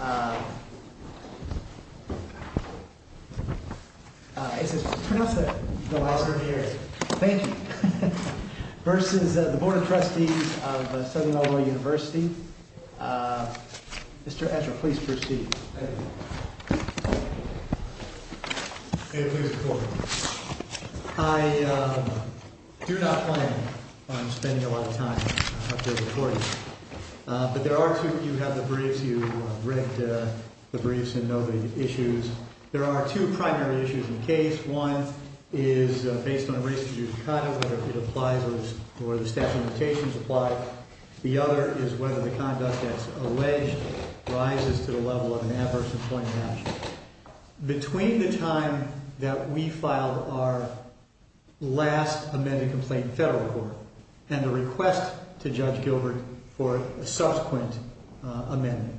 I do not plan on spending a lot of time up there recording, but there are a few briefs and know the issues. There are two primary issues in the case. One is based on a racist use of conduct, whether it applies or the statute of limitations applies. The other is whether the conduct that's alleged rises to the level of an adverse employment action. Between the time that we filed our last amended complaint in federal court and the request to Judge Gilbert for a subsequent amendment,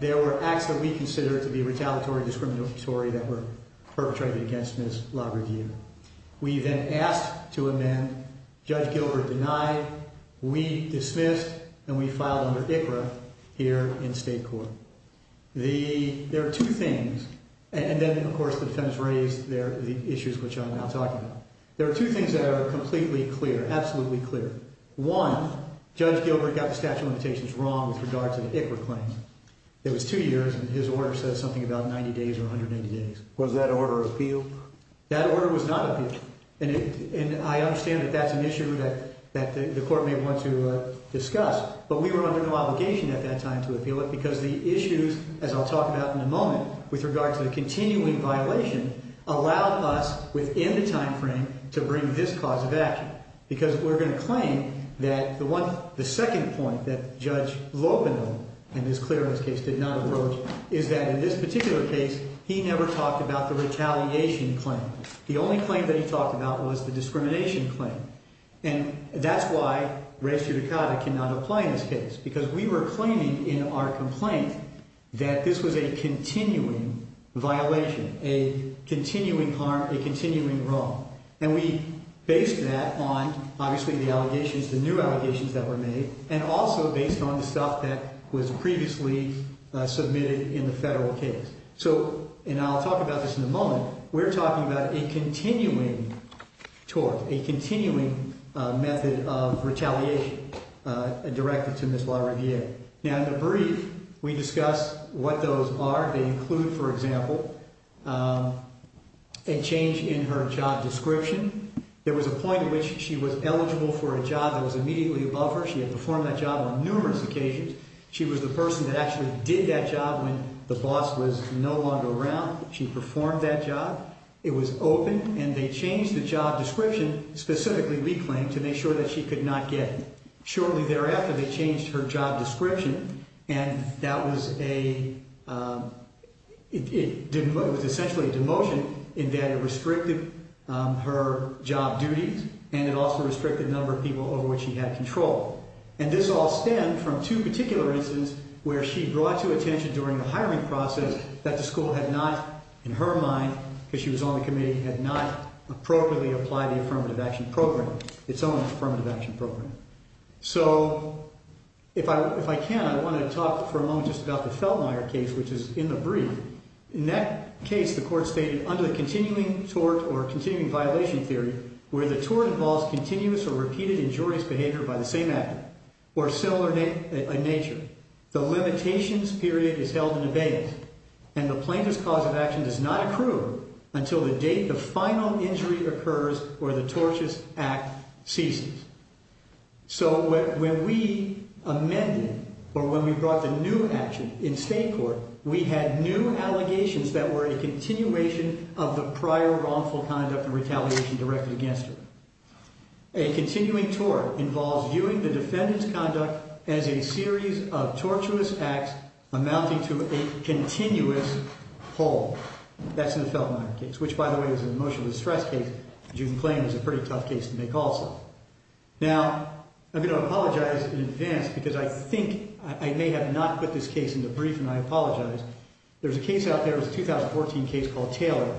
there were acts that we considered to be retaliatory and discriminatory that were perpetrated against Ms. LaRiviere. We then asked to amend. Judge Gilbert denied. We dismissed, and we filed under ICRA here in state court. There are two things, and then, of course, the defense raised the issues which I'm now talking about. There are two things that are completely clear, absolutely clear. One, Judge Gilbert got the statute of limitations wrong with regard to the ICRA claim. It was two years, and his order says something about 90 days or 180 days. Was that order appealed? That order was not appealed, and I understand that that's an issue that the court may want to discuss, but we were under no obligation at that time to appeal it because the issues, as I'll talk about in a moment, with regard to the continuing violation, allowed us within the timeframe to bring this cause of action because we're going to claim that the second point that Judge Lopino, in his clearance case, did not approach is that in this particular case, he never talked about the retaliation claim. The only claim that he talked about was the discrimination claim, and that's why res judicata cannot apply in this case because we were subject to a continuing violation, a continuing harm, a continuing wrong, and we based that on, obviously, the allegations, the new allegations that were made, and also based on the stuff that was previously submitted in the federal case. So, and I'll talk about this in a moment, we're talking about a continuing tort, a continuing method of retaliation directed to Ms. LaRiviere. Now, in the brief, we discuss what those are. They include, for example, a change in her job description. There was a point at which she was eligible for a job that was immediately above her. She had performed that job on numerous occasions. She was the person that actually did that job when the boss was no longer around. She performed that job. It was open, and they changed the job description, specifically reclaimed, to make sure that she could not get it. Shortly thereafter, they changed her job description, and that was a, it was essentially a demotion in that it restricted her job duties, and it also restricted the number of people over which she had control. And this all stemmed from two particular instances where she brought to attention during the hiring process that the school had not, in her mind, because she was on the committee, had not appropriately applied the Affirmative Action Program, its own Affirmative Action Program. So, if I can, I want to talk for a moment just about the Feltmire case, which is in the brief. In that case, the court stated, under the continuing tort or continuing violation theory, where the tort involves continuous or repeated injurious behavior by the same actor, or similar in nature, the limitations period is held in abeyance, and the plaintiff's cause of action does not accrue until the date the final injury occurs or the tortious act ceases. So, when we amended, or when we brought the new action in state court, we had new allegations that were a continuation of the prior wrongful conduct and retaliation directed against her. A continuing tort involves viewing the defendant's conduct as a series of tortuous acts amounting to a continuous hold. That's in the Feltmire case, which, by the way, is an emotional distress case, which you can claim is a pretty tough case to make also. Now, I'm going to apologize in advance, because I think I may have not put this case in the brief, and I apologize. There's a case out there, it's a 2014 case called Taylor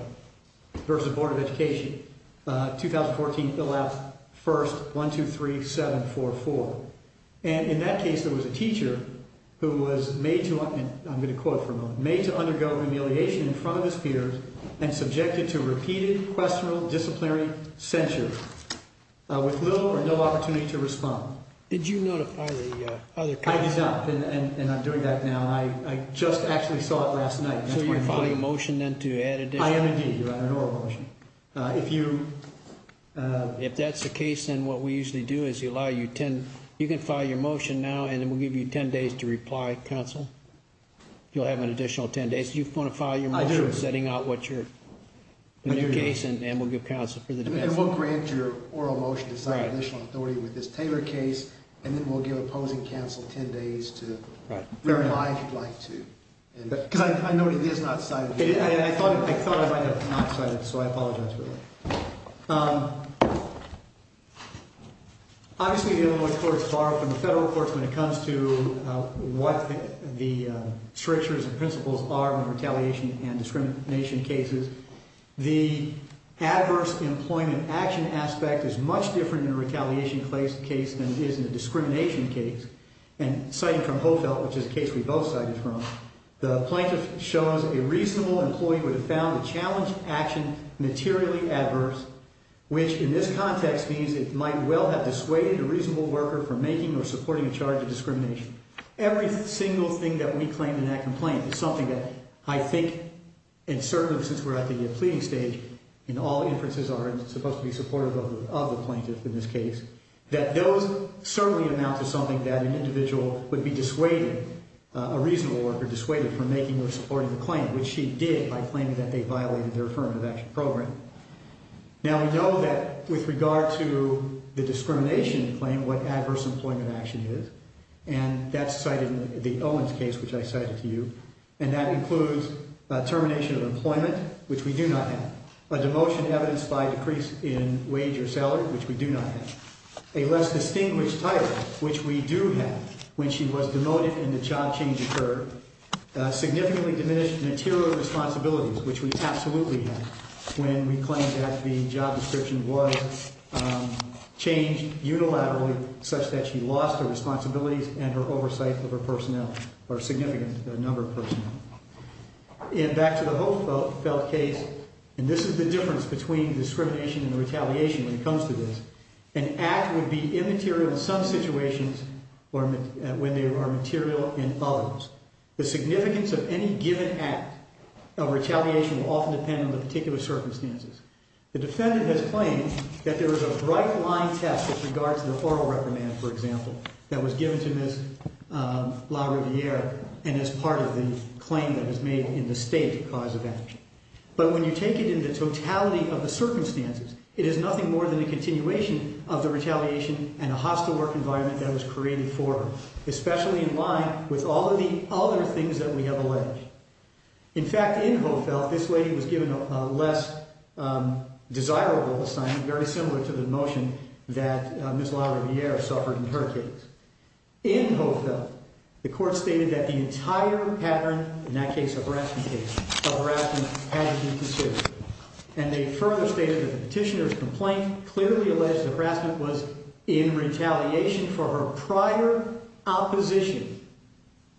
v. Board of Education, 2014, fill-out, first, one, two, three, seven, four, and in that case, there was a teacher who was made to, and I'm going to quote for a moment, made to undergo humiliation in front of his peers and subjected to repeated questionable disciplinary censure with little or no opportunity to respond. Did you notify the other counsel? I did not, and I'm doing that now. I just actually saw it last night. So, you're filing a motion then to add additional? I am, indeed. I wrote a motion. If you... If that's the case, then what we usually do is we allow you 10, you can file your motion now, and then we'll give you 10 days to reply, counsel, if you'll have an additional 10 days. Do you want to file your motion... I do. ...setting out what your, the new case, and we'll give counsel for the defense. And we'll grant your oral motion to sign additional authority with this Taylor case, and then we'll give opposing counsel 10 days to reply if you'd like to. Because I know it is not cited. I thought I might have not cited it, so I apologize for that. Obviously, the Illinois courts borrow from the federal courts when it comes to what the strictures and principles are in retaliation and discrimination cases. The adverse employment action aspect is much different in a retaliation case than it is in a discrimination case. And citing from Hofelt, which is a case we both cited from, the plaintiff shows a reasonable employee would have found the challenge action materially adverse, which in this context means it might well have dissuaded a reasonable worker from making or supporting a charge of discrimination. Every single thing that we claim in that complaint is something that I think, and certainly since we're at the pleading stage, and all inferences are supposed to be supportive of the plaintiff in this case, that those certainly amount to something that an individual would be dissuading a reasonable worker, dissuading from making or supporting the claim, which she did by claiming that they violated their affirmative action program. Now, we know that with regard to the discrimination claim, what adverse employment action is, and that's cited in the Owens case, which I cited to you, and that includes termination of employment, which we do not have, a demotion evidenced by a decrease in wage or salary, which we do not have, a less distinguished title, which we do have, when she was demoted and the job change occurred, significantly diminished material responsibilities, which we absolutely have, when we claim that the job description was changed unilaterally, such that she lost her responsibilities and her oversight of her personnel, or a significant number of personnel. And back to the Hofelt case, and this is the difference between discrimination and retaliation when it comes to this. An act would be immaterial in some situations when they are material in others. The significance of any given act of retaliation will often depend on the particular circumstances. The defendant has claimed that there was a bright line test with regards to the oral reprimand, for example, that was given to Ms. LaRiviere, and is part of the claim that was made in the state cause of action. But when you take it into totality of the circumstances, it is nothing more than a continuation of the retaliation and a hostile work environment that was created for her, especially in line with all of the other things that we have alleged. In fact, in Hofelt, this lady was given a less desirable assignment, very similar to the motion that Ms. LaRiviere suffered in her case. In Hofelt, the court stated that the entire pattern, in that case a harassment case, of harassment had to be considered. And they further stated that the petitioner's complaint clearly alleged that harassment was in retaliation for her prior opposition,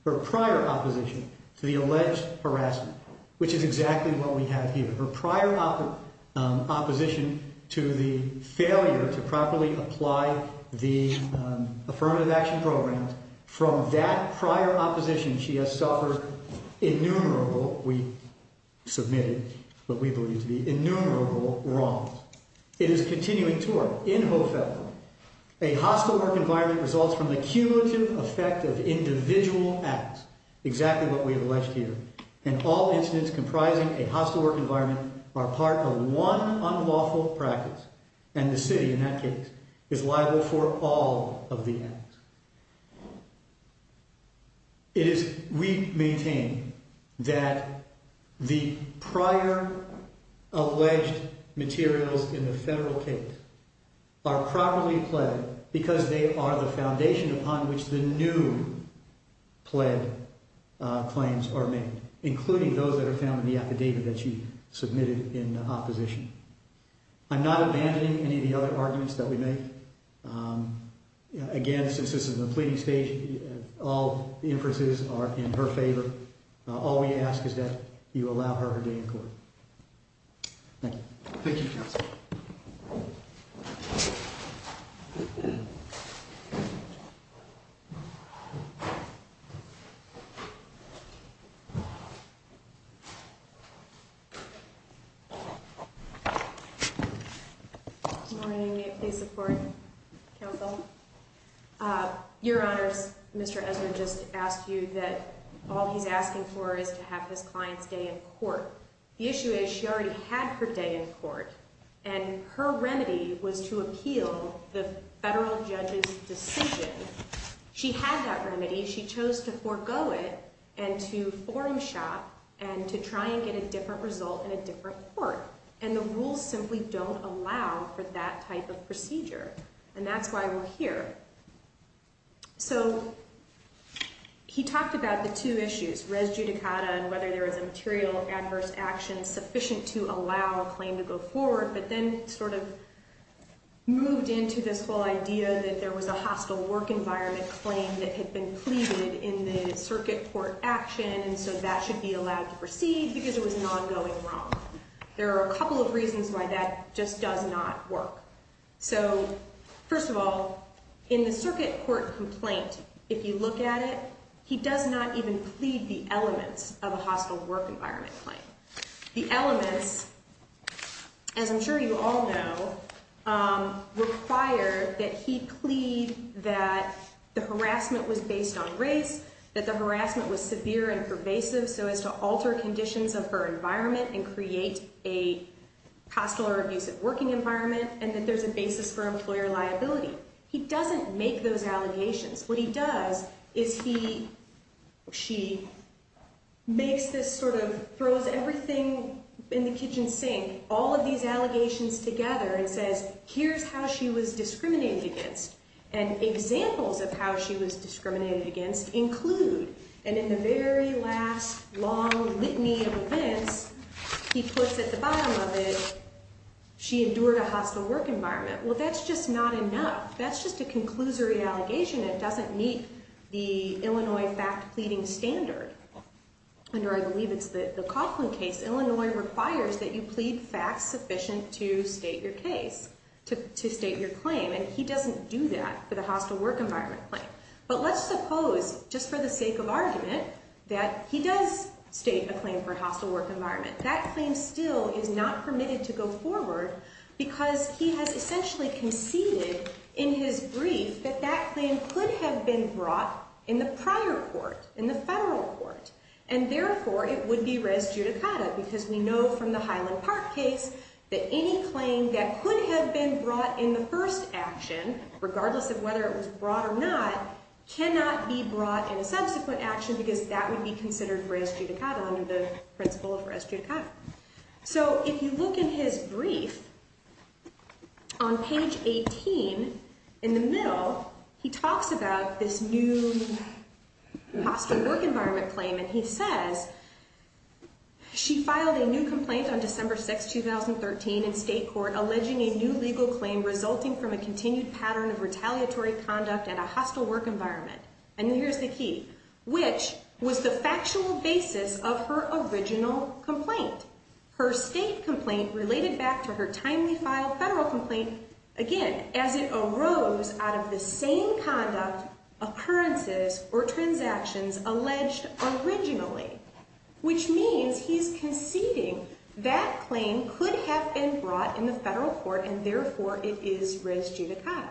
her prior opposition to the alleged harassment, which is exactly what we have here. Her prior opposition to the failure to properly apply the affirmative action program, from that prior opposition she has suffered innumerable, we submitted what we believe to be innumerable wrongs. It is continuing to work. In Hofelt, a hostile work environment results from the cumulative effect of individual acts, exactly what we have alleged here. And all incidents comprising a hostile work environment are part of one unlawful practice. And the city, in that case, is liable for all of the acts. It is, we maintain, that the prior alleged materials in the federal case are properly pled because they are the foundation upon which the new pled claims are made, including those that are found in the affidavit that she submitted in opposition. I'm not abandoning any of the other arguments that we make. Again, since this is a pleading stage, all inferences are in her favor. All we ask is that you allow her her day in court. Thank you. Thank you, counsel. Thank you. Good morning. May I please support counsel? Your Honors, Mr. Ezra just asked you that all he's asking for is to have his client's day in court. The issue is she already had her day in court. And her remedy was to appeal the federal judge's decision. She had that remedy. She chose to forego it and to forum shop and to try and get a different result in a different court. And the rules simply don't allow for that type of procedure. And that's why we're here. So he talked about the two issues, res judicata and whether there is a material adverse action sufficient to allow a claim to go forward, but then sort of moved into this whole idea that there was a hostile work environment claim that had been pleaded in the circuit court action. And so that should be allowed to proceed because it was not going wrong. There are a couple of reasons why that just does not work. So first of all, in the circuit court complaint, if you look at it, he does not even plead the elements of a hostile work environment claim. The elements, as I'm sure you all know, require that he plead that the harassment was based on race, that the harassment was severe and pervasive so as to alter conditions of her and that there's a basis for employer liability. He doesn't make those allegations. What he does is he, she makes this sort of, throws everything in the kitchen sink, all of these allegations together and says, here's how she was discriminated against. And examples of how she was discriminated against include, and in the very last long litany of events, he puts at the bottom of it, she endured a hostile work environment. Well, that's just not enough. That's just a conclusory allegation that doesn't meet the Illinois fact pleading standard. Under, I believe it's the Coughlin case, Illinois requires that you plead facts sufficient to state your case, to state your claim. And he doesn't do that for the hostile work environment claim. But let's suppose, just for the sake of argument, that he does state a claim for hostile work environment. That claim still is not permitted to go forward because he has essentially conceded in his brief that that claim could have been brought in the prior court, in the federal court. And therefore, it would be res judicata because we know from the Highland Park case that any claim that could have been brought in the first action, regardless of whether it was brought or not, cannot be brought in a subsequent action because that would be considered res judicata under the principle of res judicata. So if you look in his brief, on page 18, in the middle, he talks about this new hostile work environment claim. And he says, she filed a new complaint on December 6, 2013 in state court alleging a new legal claim resulting from a continued pattern of retaliatory conduct in a hostile work environment. And here's the key. Which was the factual basis of her original complaint. Her state complaint related back to her timely filed federal complaint, again, as it arose out of the same conduct, occurrences, or transactions alleged originally. Which means he's conceding that claim could have been brought in the federal court, and therefore, it is res judicata.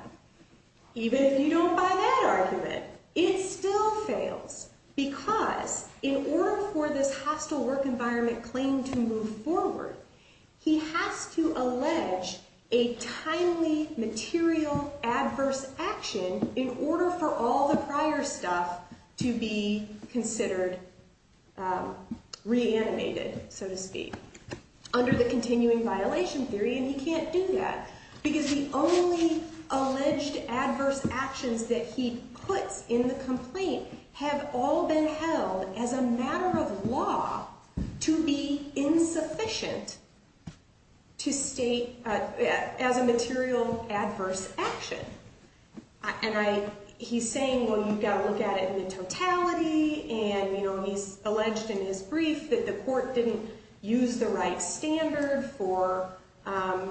Even if you don't buy that argument, it still fails because in order for this hostile work environment claim to move forward, he has to allege a timely, material, adverse action in order for all the prior stuff to be considered reanimated, so to speak, under the continuing violation theory. And he can't do that because the only alleged adverse actions that he puts in the complaint have all been held as a matter of law to be insufficient to state as a material adverse action. And he's saying, well, you've got to look at it in the totality. And he's alleged in his brief that the court didn't use the right standard for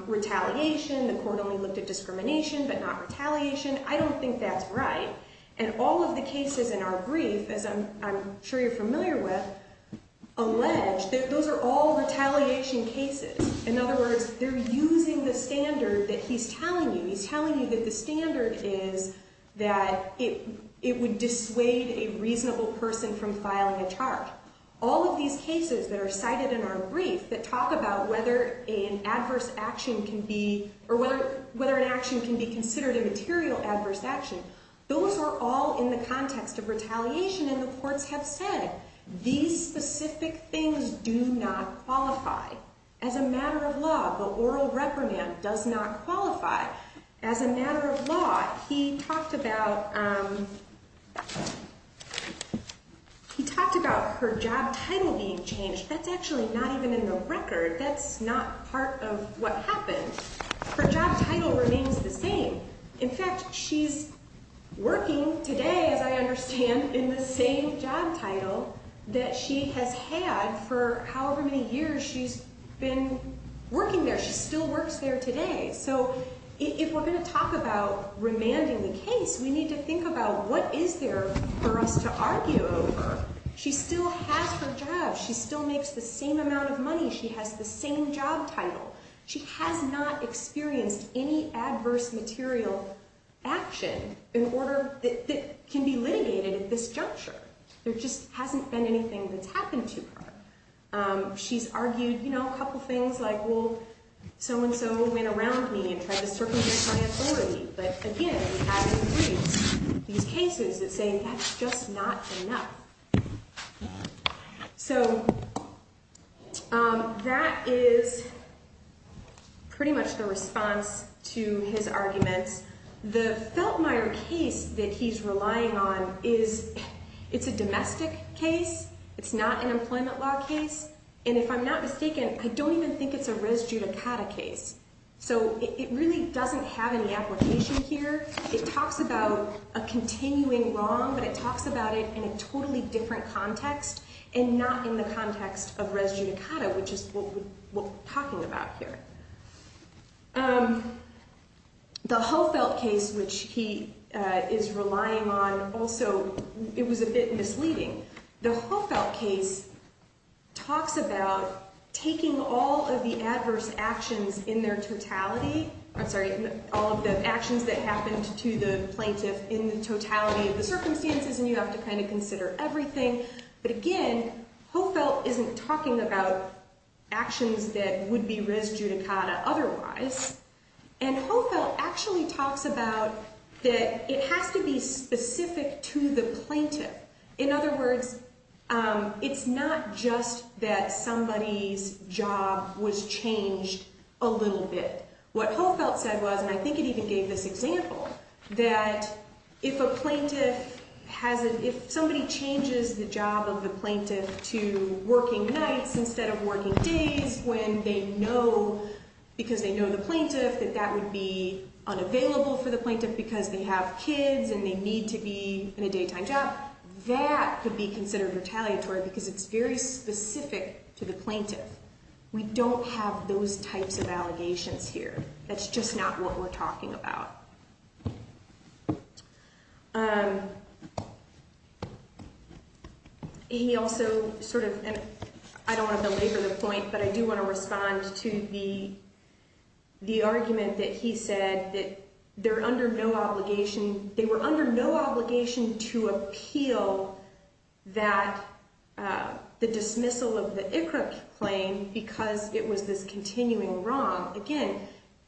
retaliation. The court only looked at discrimination, but not retaliation. I don't think that's right. And all of the cases in our brief, as I'm sure you're familiar with, allege, those are all retaliation cases. In other words, they're using the standard that he's telling you. He's telling you that the standard is that it would dissuade a reasonable person from filing a charge. All of these cases that are cited in our brief that talk about whether an adverse action can be, or whether an action can be considered a material adverse action, those are all in the context of retaliation. And the courts have said, these specific things do not qualify as a matter of law. The oral reprimand does not qualify as a matter of law. He talked about her job title being changed. That's actually not even in the record. That's not part of what happened. Her job title remains the same. In fact, she's working today, as I understand, in the same job title that she has had for however many years she's been working there. She still works there today. So if we're going to talk about remanding the case, we need to think about what is there for us to argue over. She still has her job. She still makes the same amount of money. She has the same job title. She has not experienced any adverse material action that can be litigated at this juncture. There just hasn't been anything that's happened to her. She's argued, you know, a couple of things like, well, so-and-so went around me and tried to circumvent my authority. But again, we have in the briefs these cases that say that's just not enough. So that is pretty much the response to his arguments. The Feltmire case that he's relying on is a domestic case. It's not an employment law case. And if I'm not mistaken, I don't even think it's a res judicata case. So it really doesn't have any application here. It talks about a continuing wrong, but it talks about it in a totally different context and not in the context of res judicata, which is what we're talking about here. The Hofelt case, which he is relying on, also, it was a bit misleading. The Hofelt case talks about taking all of the adverse actions in their totality. I'm sorry, all of the actions that happened to the plaintiff in the totality of the circumstances, and you have to kind of consider everything. But again, Hofelt isn't talking about actions that would be res judicata otherwise. And Hofelt actually talks about that it has to be specific to the plaintiff. In other words, it's not just that somebody's job was changed a little bit. What Hofelt said was, and I think he even gave this example, that if somebody changes the job of the plaintiff to working nights instead of working days because they know the plaintiff, that that would be unavailable for the plaintiff because they have kids and they need to be in a daytime job. That could be considered retaliatory because it's very specific to the plaintiff. We don't have those types of allegations here. That's just not what we're talking about. He also sort of, and I don't want to belabor the point, but I do want to respond to the argument that he said that they're under no obligation, they were under no obligation to appeal that, the dismissal of the ICRC claim because it was this continuing wrong. Again,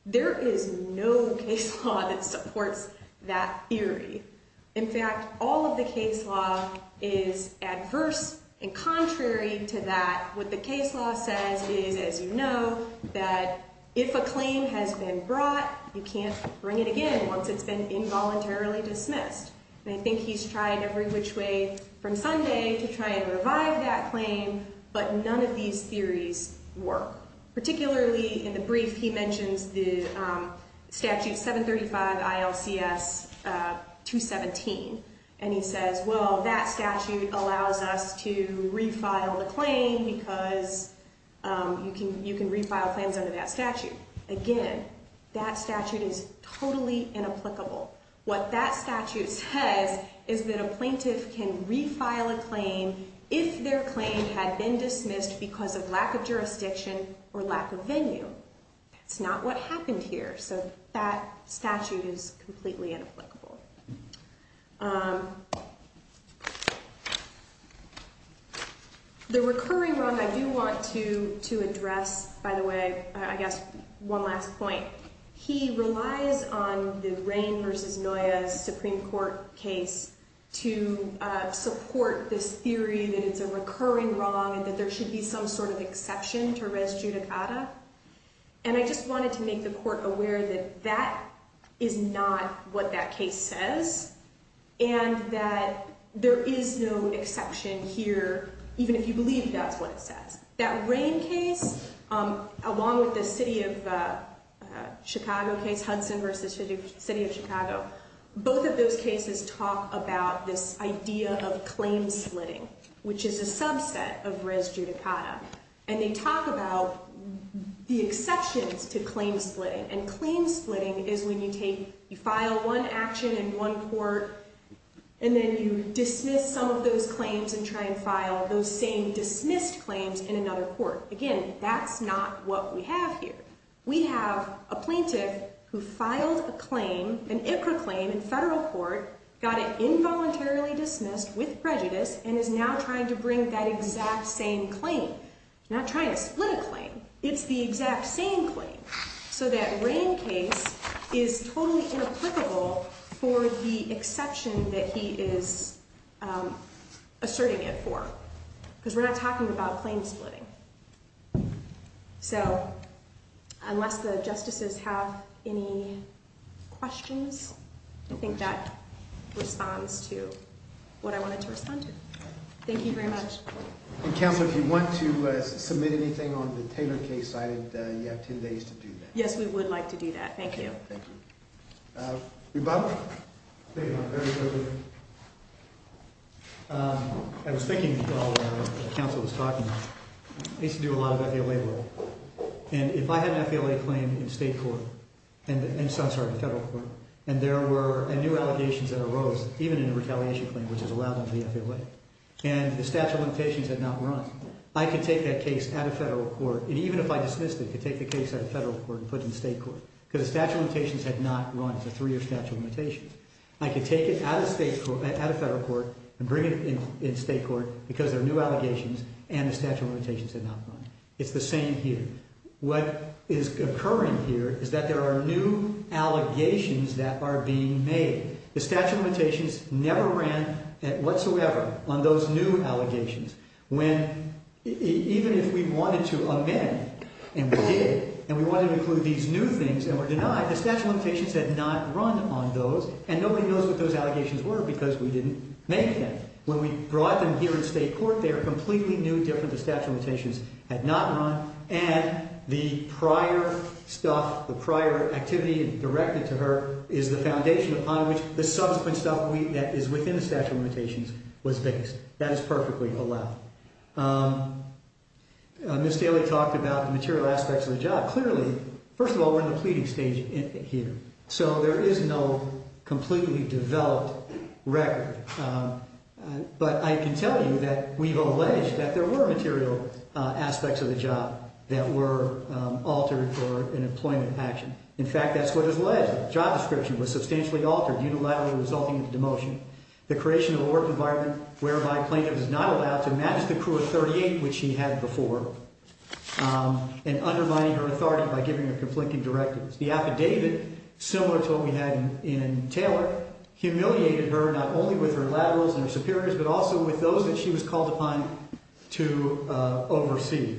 there is no case law that supports that theory. In fact, all of the case law is adverse and contrary to that. What the case law says is, as you know, that if a claim has been brought, you can't bring it again once it's been involuntarily dismissed. And I think he's tried every which way from Sunday to try and revive that claim, but none of these theories work. Particularly in the brief, he mentions the statute 735 ILCS 217, and he says, well, that statute allows us to refile the claim because you can refile claims under that statute. Again, that statute is totally inapplicable. What that statute says is that a plaintiff can refile a claim if their claim had been dismissed because of lack of jurisdiction or lack of venue. That's not what happened here, so that statute is completely inapplicable. The recurring wrong I do want to address, by the way, I guess one last point. He relies on the Rain v. Noya Supreme Court case to support this theory that it's a recurring wrong and that there should be some sort of exception to res judicata. And I just wanted to make the court aware that that is not what that case says and that there is no exception here, even if you believe that's what it says. That Rain case, along with the City of Chicago case, Hudson v. City of Chicago, both of those cases talk about this idea of claim splitting, which is a subset of res judicata. And they talk about the exceptions to claim splitting, and claim splitting is when you file one action in one court and then you dismiss some of those claims and try and file those same dismissed claims in another court. Again, that's not what we have here. We have a plaintiff who filed a claim, an IPRA claim in federal court, got it involuntarily dismissed with prejudice and is now trying to bring that exact same claim. He's not trying to split a claim. It's the exact same claim. So that Rain case is totally inapplicable for the exception that he is asserting it for because we're not talking about claim splitting. So unless the justices have any questions, I think that responds to what I wanted to respond to. Thank you very much. And counsel, if you want to submit anything on the Taylor case side, you have 10 days to do that. Yes, we would like to do that. Thank you. Thank you. Rebuttal? Thank you, Your Honor. Very quickly. I was thinking while the counsel was talking, I used to do a lot of FALA work, and if I had an FALA claim in state court, I'm sorry, in federal court, and there were new allegations that arose, even in a retaliation claim, which has allowed them to be FALA, and the statute of limitations had not run, I could take that case out of federal court, and even if I dismissed it, I could take the case out of federal court and put it in state court because the statute of limitations had not run. It's a three-year statute of limitations. I could take it out of state court, out of federal court, and bring it in state court because there are new allegations, and the statute of limitations had not run. It's the same here. What is occurring here is that there are new allegations that are being made. The statute of limitations never ran whatsoever on those new allegations. Even if we wanted to amend, and we did, and we wanted to include these new things that were denied, the statute of limitations had not run on those, and nobody knows what those allegations were because we didn't make them. When we brought them here in state court, they are completely new, different. The statute of limitations had not run, and the prior stuff, the prior activity directed to her, is the foundation upon which the subsequent stuff that is within the statute of limitations was based. That is perfectly allowed. Ms. Daly talked about the material aspects of the job. Clearly, first of all, we're in the pleading stage here, so there is no completely developed record, but I can tell you that we've alleged that there were material aspects of the job that were altered for an employment action. In fact, that's what is alleged. The job description was substantially altered, unilaterally resulting in a demotion. The creation of a work environment whereby a plaintiff is not allowed to match the crew of 38, which he had before, and undermining her authority by giving her conflicting directives. The affidavit, similar to what we had in Taylor, humiliated her not only with her laterals and her superiors, but also with those that she was called upon to oversee.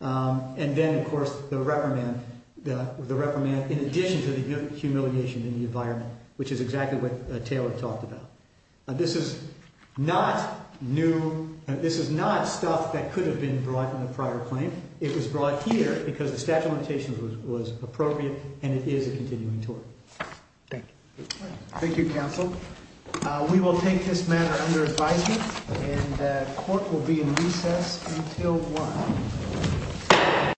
And then, of course, the reprimand, in addition to the humiliation in the environment, which is exactly what Taylor talked about. This is not new. This is not stuff that could have been brought in the prior claim. It was brought here because the statute of limitations was appropriate, and it is a continuing tort. Thank you. Thank you, counsel. We will take this matter under advisement, and the court will be in recess until 1.